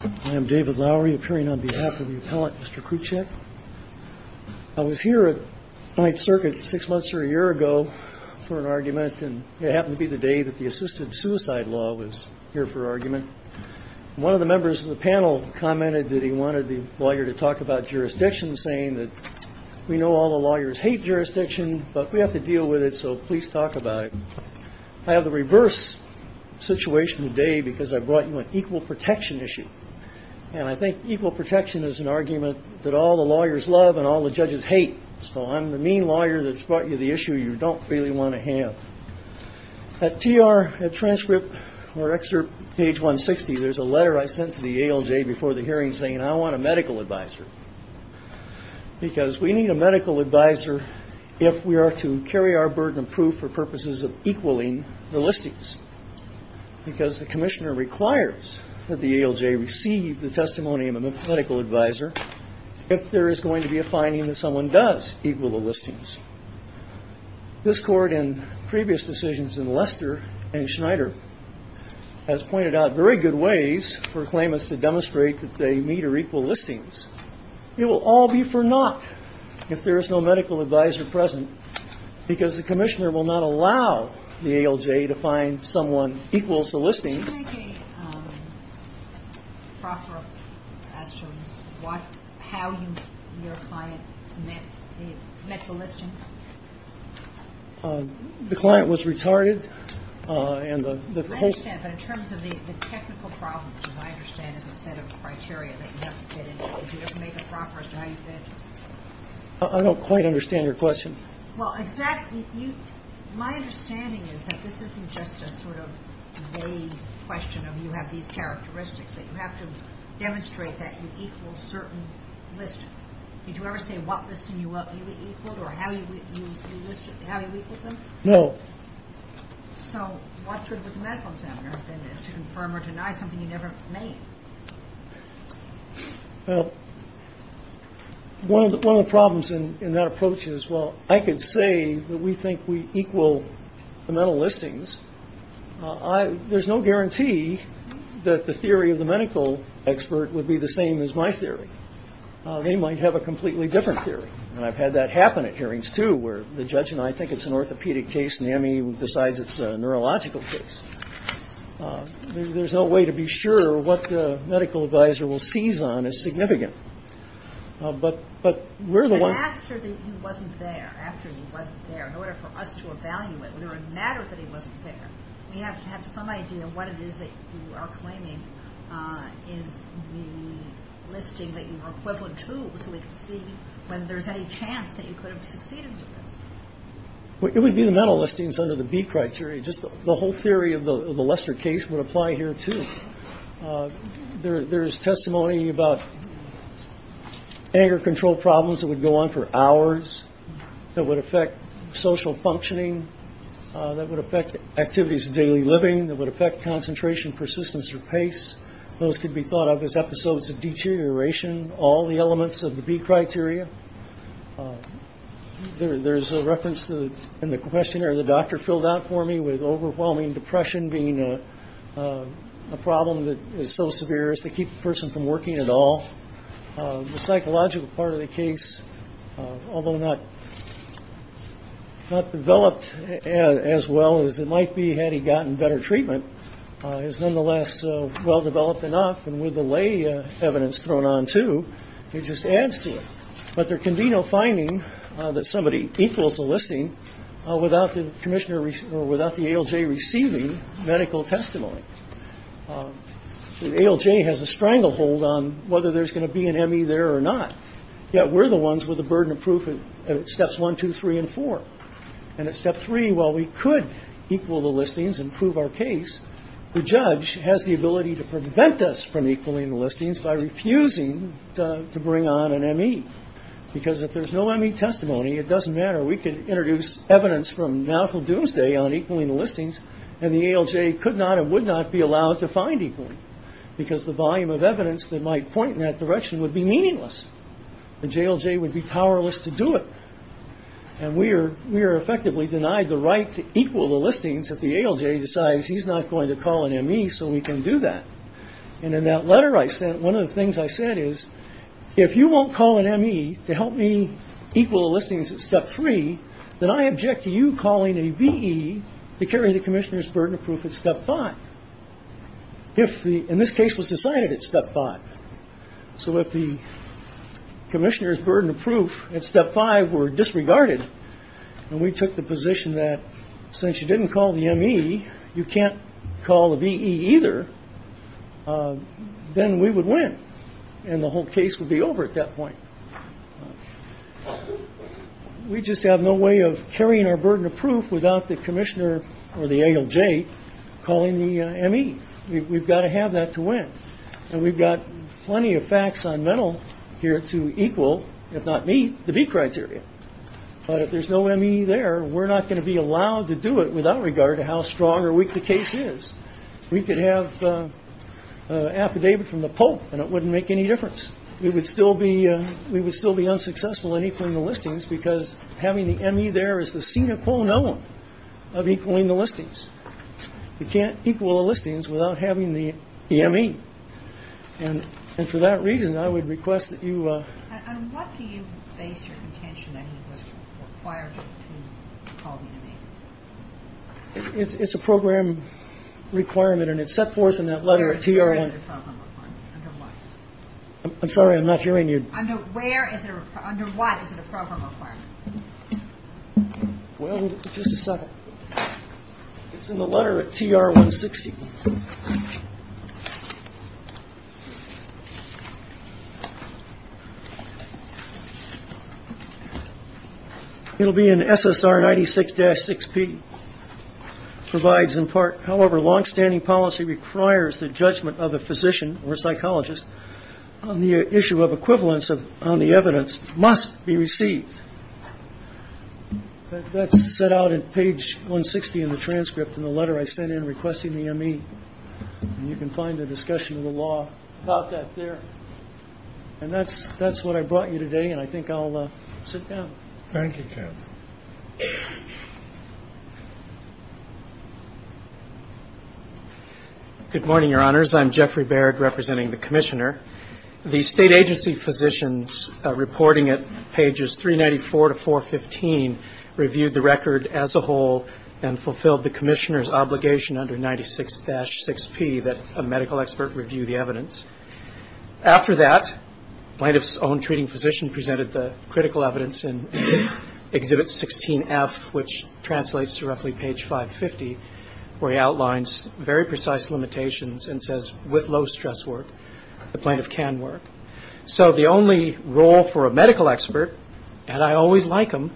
I am David Lowery appearing on behalf of the appellant Mr. Kruchek. I was here at 9th Circuit six months or a year ago for an argument and it happened to be the day that the assisted suicide law was here for argument. One of the members of the panel commented that he wanted the lawyer to talk about jurisdiction saying that we know all the lawyers hate jurisdiction but we have to deal with it so please talk about it. I have the reverse situation today because I brought an equal protection issue and I think equal protection is an argument that all the lawyers love and all the judges hate so I'm the mean lawyer that's brought you the issue you don't really want to have. At TR, at transcript or excerpt page 160 there's a letter I sent to the ALJ before the hearing saying I want a medical advisor because we need a medical advisor if we are to carry our burden of proof for purposes of equaling the listings because the commissioner requires that the ALJ receive the testimony of a medical advisor if there is going to be a finding that someone does equal the listings. This court in previous decisions in Lester and Schneider has pointed out very good ways for claimants to demonstrate that they meet or equal listings. It will all be for naught if there is no medical advisor present because the commissioner will not allow the ALJ to find someone equals the listing. Can you make a proffer as to what, how your client met the listings? The client was retarded and the whole. I understand but in terms of the technical problem, which I understand is a set of criteria that you have to fit in, would you ever make a proffer as to how you fit? I don't quite understand your question. My understanding is that this isn't just a vague question of you have these characteristics that you have to demonstrate that you equal certain listings. Did you ever say what listing you equaled or how you equaled them? No. So what good would the medical examiner have done to confirm or deny something you never made? Well, one of the problems in that approach is, well, I could say that we think we equal the mental listings. There's no guarantee that the theory of the medical expert would be the same as my theory. They might have a completely different theory. And I've had that happen at hearings, too, where the judge and I think it's an orthopedic case and the ME decides it's a neurological case. There's no way to be sure what the medical advisor will seize on as significant. But we're the one. But after he wasn't there, after he wasn't there, in order for us to evaluate whether it mattered that he wasn't there, we have to have some idea what it is that you are claiming is the listing that you were equivalent to so we can see whether there's any chance that you could have succeeded with this. It would be the mental listings under the B criteria. The whole theory of the Lester case would apply here, too. There's testimony about anger control problems that would go on for hours, that would affect social functioning, that would affect activities of daily living, that would affect concentration, persistence, or pace. Those could be thought of as episodes of deterioration, all the elements of the B criteria. There's a reference in the questionnaire the doctor filled out for me with overwhelming depression being a problem that is so severe as to keep the person from working at all. The psychological part of the case, although not developed as well as it might be had he gotten better treatment, is nonetheless well-developed enough and with the lay evidence thrown on, too, it just adds to it. But there can be no finding that somebody equals a listing without the ALJ receiving medical testimony. The ALJ has a stranglehold on whether there's going to be an ME there or not, yet we're the ones with the burden of proof at steps one, two, three, and four. And at step three, while we could equal the listings and prove our case, the ALJ could not equal the listings by refusing to bring on an ME. Because if there's no ME testimony, it doesn't matter. We could introduce evidence from now until doomsday on equaling the listings, and the ALJ could not and would not be allowed to find equaling, because the volume of evidence that might point in that direction would be meaningless. The JLJ would be powerless to do it. And we are effectively denied the right to equal the listings if the ALJ decides he's not going to call an ME so we can do that. And in that letter I sent, one of the things I said is, if you won't call an ME to help me equal the listings at step three, then I object to you calling a VE to carry the Commissioner's burden of proof at step five. If the, in this case, was decided at step five. So if the Commissioner's burden of proof at step five were disregarded, then we took the position that since you didn't call the ME, you can't call the VE either, then we would win. And the whole case would be over at that point. We just have no way of carrying our burden of proof without the Commissioner or the ALJ calling the ME. We've got to have that to win. And we've got plenty of facts on metal here to equal, if not meet, the V criteria. But if there's no ME there, we're not going to be allowed to do it without regard to how strong or weak the case is. We could have an affidavit from the Pope, and it wouldn't make any difference. We would still be unsuccessful at equaling the listings because having the ME there is the sine qua non of equaling the listings. You can't equal the listings without having the ME. And for that reason, I would request that you... And what do you base your intention on that requires you to call the ME? It's a program requirement, and it's set forth in that letter at TR-160. I'm sorry, I'm not hearing you. Under what is it a program requirement? Well, just a second. It's in the letter at TR-160. It'll be in SSR-96-6P. Provides in part, however, long-standing policy requires the judgment of a physician or psychologist on the issue of equivalence on the evidence must be received. That's set out in page 160 in the transcript in the letter I sent in requesting the ME. And you can find a discussion of the law about that there. And that's what I brought up. It's a program requirement. That's what I brought you today, and I think I'll sit down. Thank you, counsel. Good morning, Your Honors. I'm Jeffrey Baird, representing the Commissioner. The state agency physicians reporting at pages 394 to 415 reviewed the record as a whole and fulfilled the Commissioner's obligation under 96-6P that a medical expert review the evidence. After that, the plaintiff's own treating physician presented the critical evidence in Exhibit 16F, which translates to roughly page 550, where he outlines very precise limitations and says, with low-stress work, the plaintiff can work. So the only role for a medical expert, and I always like them,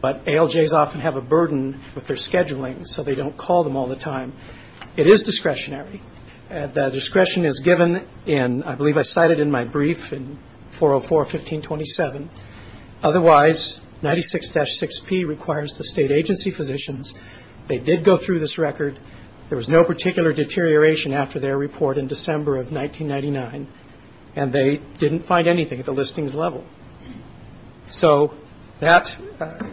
but ALJs often have a burden with their scheduling, so they don't call them all the time. It is discretionary. The discretion is given in, I believe I cited in my brief, in 404-1527. Otherwise, 96-6P requires the state agency physicians. They did go through this record. There was no particular deterioration after their report in December of 1999, and they didn't find anything at the listings level. So that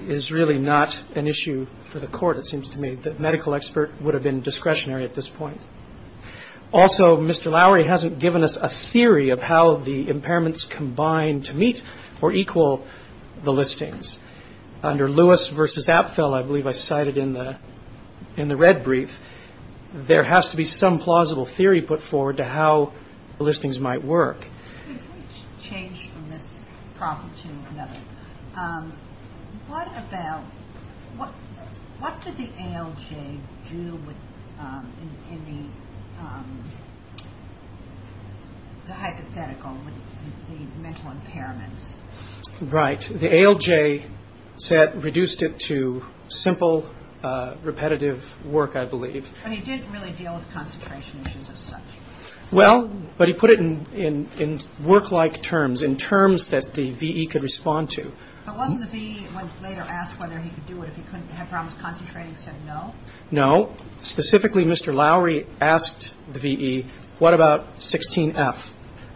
is really not an issue for the Court, it seems to me. I don't think that a medical expert would have been discretionary at this point. Also, Mr. Lowery hasn't given us a theory of how the impairments combine to meet or equal the listings. Under Lewis v. Apfel, I believe I cited in the red brief, there has to be some plausible theory put forward to how the listings might work. Let me change from this problem to another. What about... What did the ALJ do in the hypothetical with the mental impairments? Right. The ALJ reduced it to simple, repetitive work, I believe. But he didn't really deal with concentration issues as such. Well, but he put it in work-like terms, in terms that the V.E. could respond to. But wasn't the V.E. later asked whether he could do it if he couldn't have problems concentrating and said no? No. Specifically, Mr. Lowery asked the V.E., what about 16F?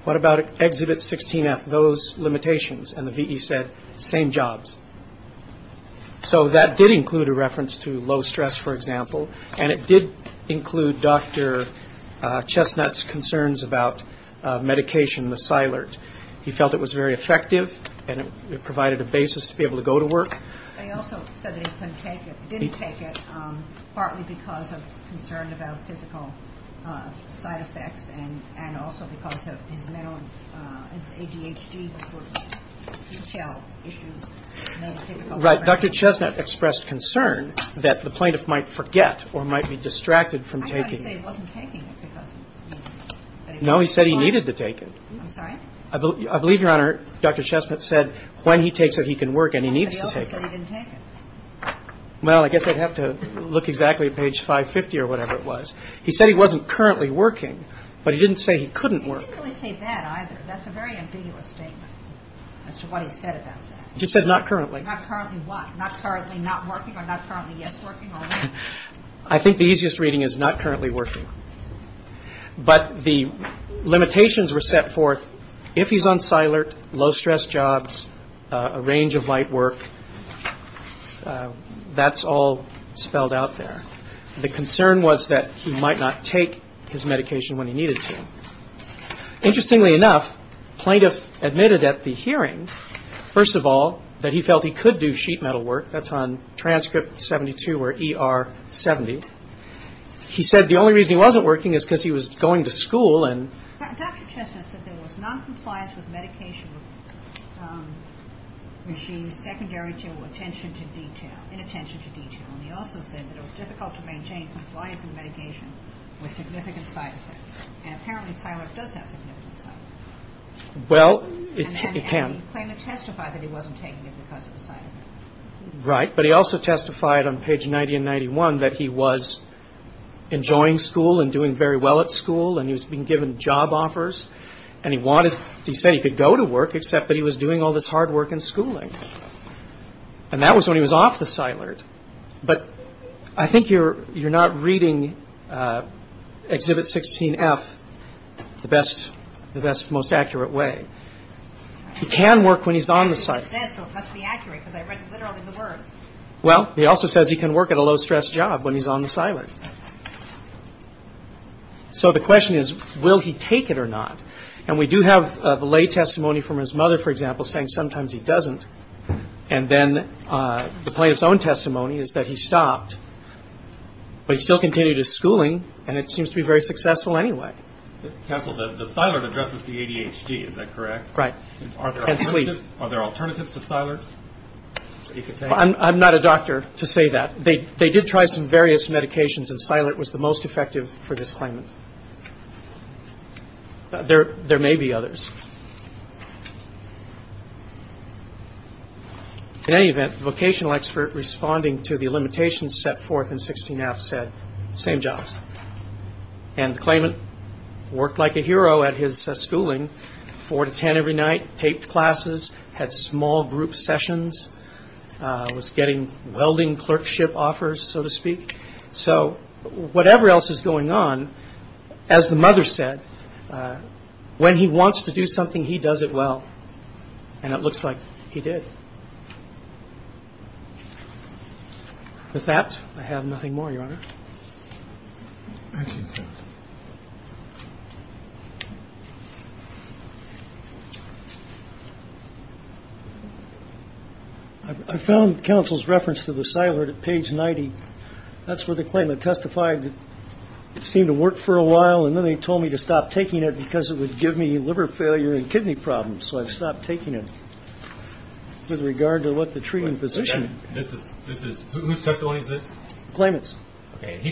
What about Exhibit 16F, those limitations? And the V.E. said, same jobs. So that did include a reference to low stress, for example, and it did include Dr. Chestnut's concerns about medication, the Silert. He felt it was very effective and it provided a basis to be able to go to work. But he also said that he couldn't take it, didn't take it, partly because of concern about physical side effects and also because of his mental, his ADHD, which were detail issues. Right. Dr. Chestnut expressed concern that the plaintiff might forget or might be distracted from taking it. I thought he said he wasn't taking it. No, he said he needed to take it. I believe, Your Honor, Dr. Chestnut said when he takes it, he can work and he needs to take it. Well, I guess I'd have to look exactly at page 550 or whatever it was. He said he wasn't currently working, but he didn't say he couldn't work. He didn't really say that either. That's a very ambiguous statement as to what he said about that. He just said not currently. I think the easiest reading is not currently working. But the limitations were set forth if he's on Silert, low stress jobs, a range of light work, that's all spelled out there. The concern was that he might not take his medication when he needed to. Interestingly enough, plaintiff admitted at the hearing, first of all, that he felt he could do sheet metal work. That's on transcript 72 or ER 70. He said the only reason he wasn't working is because he was going to school. Dr. Chestnut said there was noncompliance with medication regimes secondary to attention to detail. And he also said that it was difficult to maintain compliance with medication with significant side effects. And apparently Silert does have significant side effects. Well, it can. And the plaintiff testified that he wasn't taking it because of the side effects. Right, but he also testified on page 90 and 91 that he was enjoying school and doing very well at school and he was being given job offers and he said he could go to work except that he was doing all this hard work in schooling. And that was when he was off the Silert. But I think you're not reading Exhibit 16F the best, the best, most accurate way. He can work when he's on the Silert. Well, he also says he can work at a low-stress job when he's on the Silert. So the question is, will he take it or not? And we do have the lay testimony from his mother, for example, saying sometimes he doesn't. And then the plaintiff's own testimony is that he stopped but he still continued his schooling and it seems to be very successful anyway. Counsel, the Silert addresses the ADHD, is that correct? Right. And sleep. Are there alternatives to Silert? I'm not a doctor to say that. They did try some various medications and Silert was the most effective for this claimant. There may be others. In any event, the vocational expert responding to the limitations set forth in 16F said, same jobs. And the claimant worked like a hero at his schooling four to ten every night, taped classes, had small group sessions, was getting welding clerkship offers, so to speak. So whatever else is going on, as the mother said, when he wants to do something, he does it well. And it looks like he did. With that, I have nothing more, Your Honor. I found counsel's reference to the Silert at page 90. That's where the claimant testified it seemed to work for a while and then they told me to stop taking it because it would give me liver failure and kidney problems. So I've stopped taking it. With regard to what the treating physician... Whose testimony is this? Claimant's. He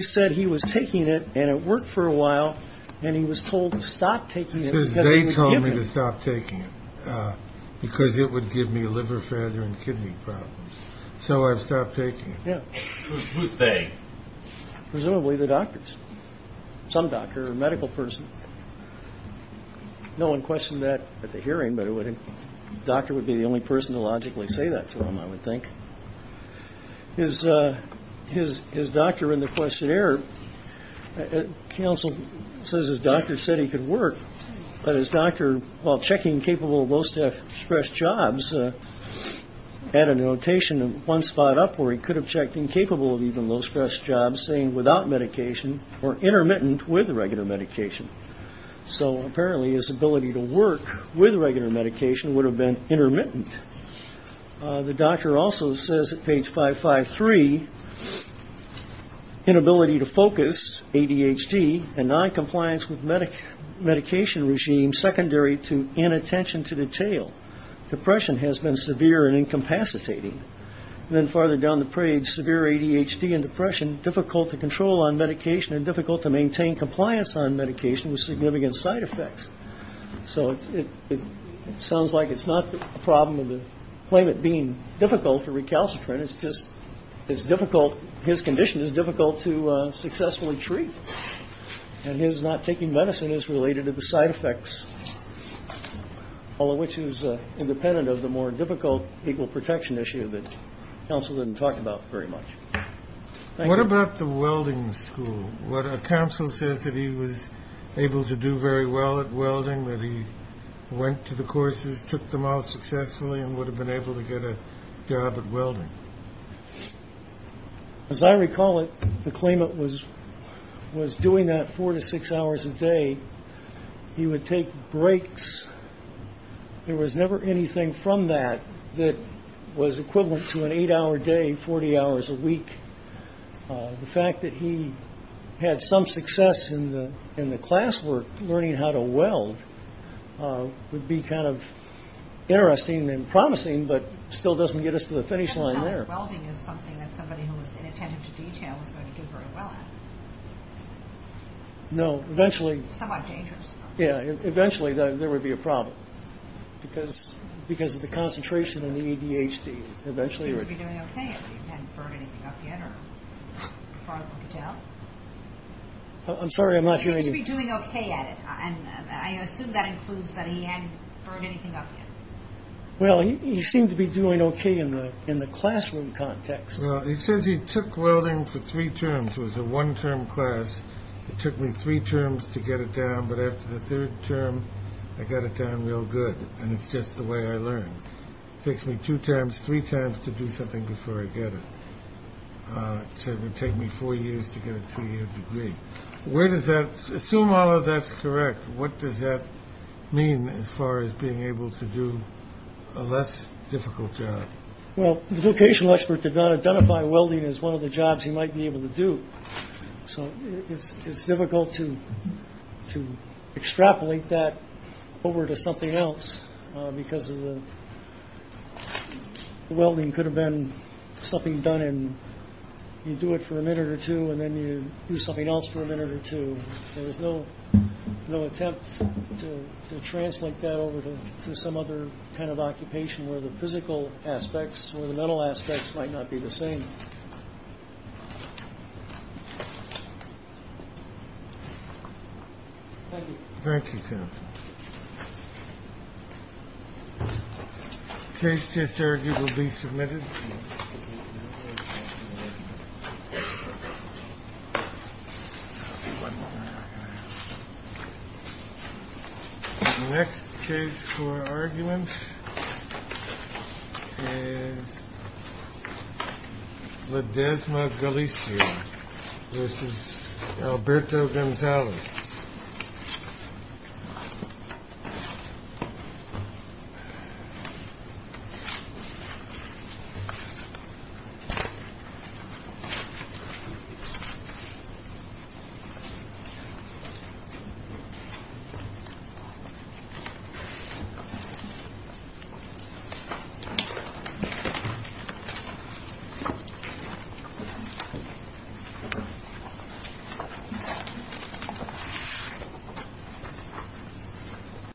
said he was taking it and it worked for a while and he was told to stop taking it because it would give me liver failure and kidney problems. So I've stopped taking it. Who's they? Presumably the doctors. Some doctor or medical person. No one questioned that at the hearing but a doctor would be the only person to logically say that to him, I would think. His doctor in the questionnaire, counsel says his doctor said he could work but his doctor, while checking capable of most express jobs, had a notation one spot up where he could have checked incapable of even most express jobs saying without medication or intermittent with regular medication. So apparently his ability to work with regular medication would have been intermittent. The doctor also says at page 553 inability to focus, ADHD, and non-compliance with medication regime is secondary to inattention to detail. Depression has been severe and incapacitating. Then farther down the page, severe ADHD and depression difficult to control on medication and difficult to maintain compliance on medication with significant side effects. So it sounds like it's not a problem of the claimant being difficult to recalcitrant it's just his condition is difficult to successfully treat. And his not taking medicine is related to the side effects all of which is independent of the more difficult legal protection issue that counsel didn't talk about very much. What about the welding school? Counsel says that he was able to do very well at welding, that he went to the courses at welding. As I recall it the claimant was doing that 4 to 6 hours a day. He would take breaks. There was never anything from that that was equivalent to an 8 hour day, 40 hours a week. The fact that he had some success in the classwork learning how to weld would be kind of interesting and promising, but still doesn't get us to the finish line there. Welding is something that somebody who was inattentive to detail was going to do very well at. Eventually there would be a problem because of the concentration in the ADHD. He seemed to be doing okay at it. He hadn't burned anything up yet. He seemed to be doing okay at it. I assume that includes that he hadn't burned anything up yet. He seemed to be doing okay in the classroom context. He says he took welding for 3 terms. It was a 1 term class. It took me 3 terms to get it down, but after the 3rd term I got it down real good. It's just the way I learned. It takes me 2 times, 3 times to do something before I get it. It would take me 4 years to get a 2 year degree. Assume all of that's correct, what does that mean as far as being able to do a less difficult job? The vocational expert did not identify welding as one of the jobs he might be able to do. It's difficult to extrapolate that over to something else because the welding could have been something done and you do it for a minute or 2 and then you do something else for a minute or 2. There was no attempt to translate that over to some other kind of occupation where the physical aspects or the mental aspects might not be the same. Thank you. Thank you. The case just argued will be submitted. The next case for argument is Ledesma Galicia versus Alberto Gonzalez. Thank you.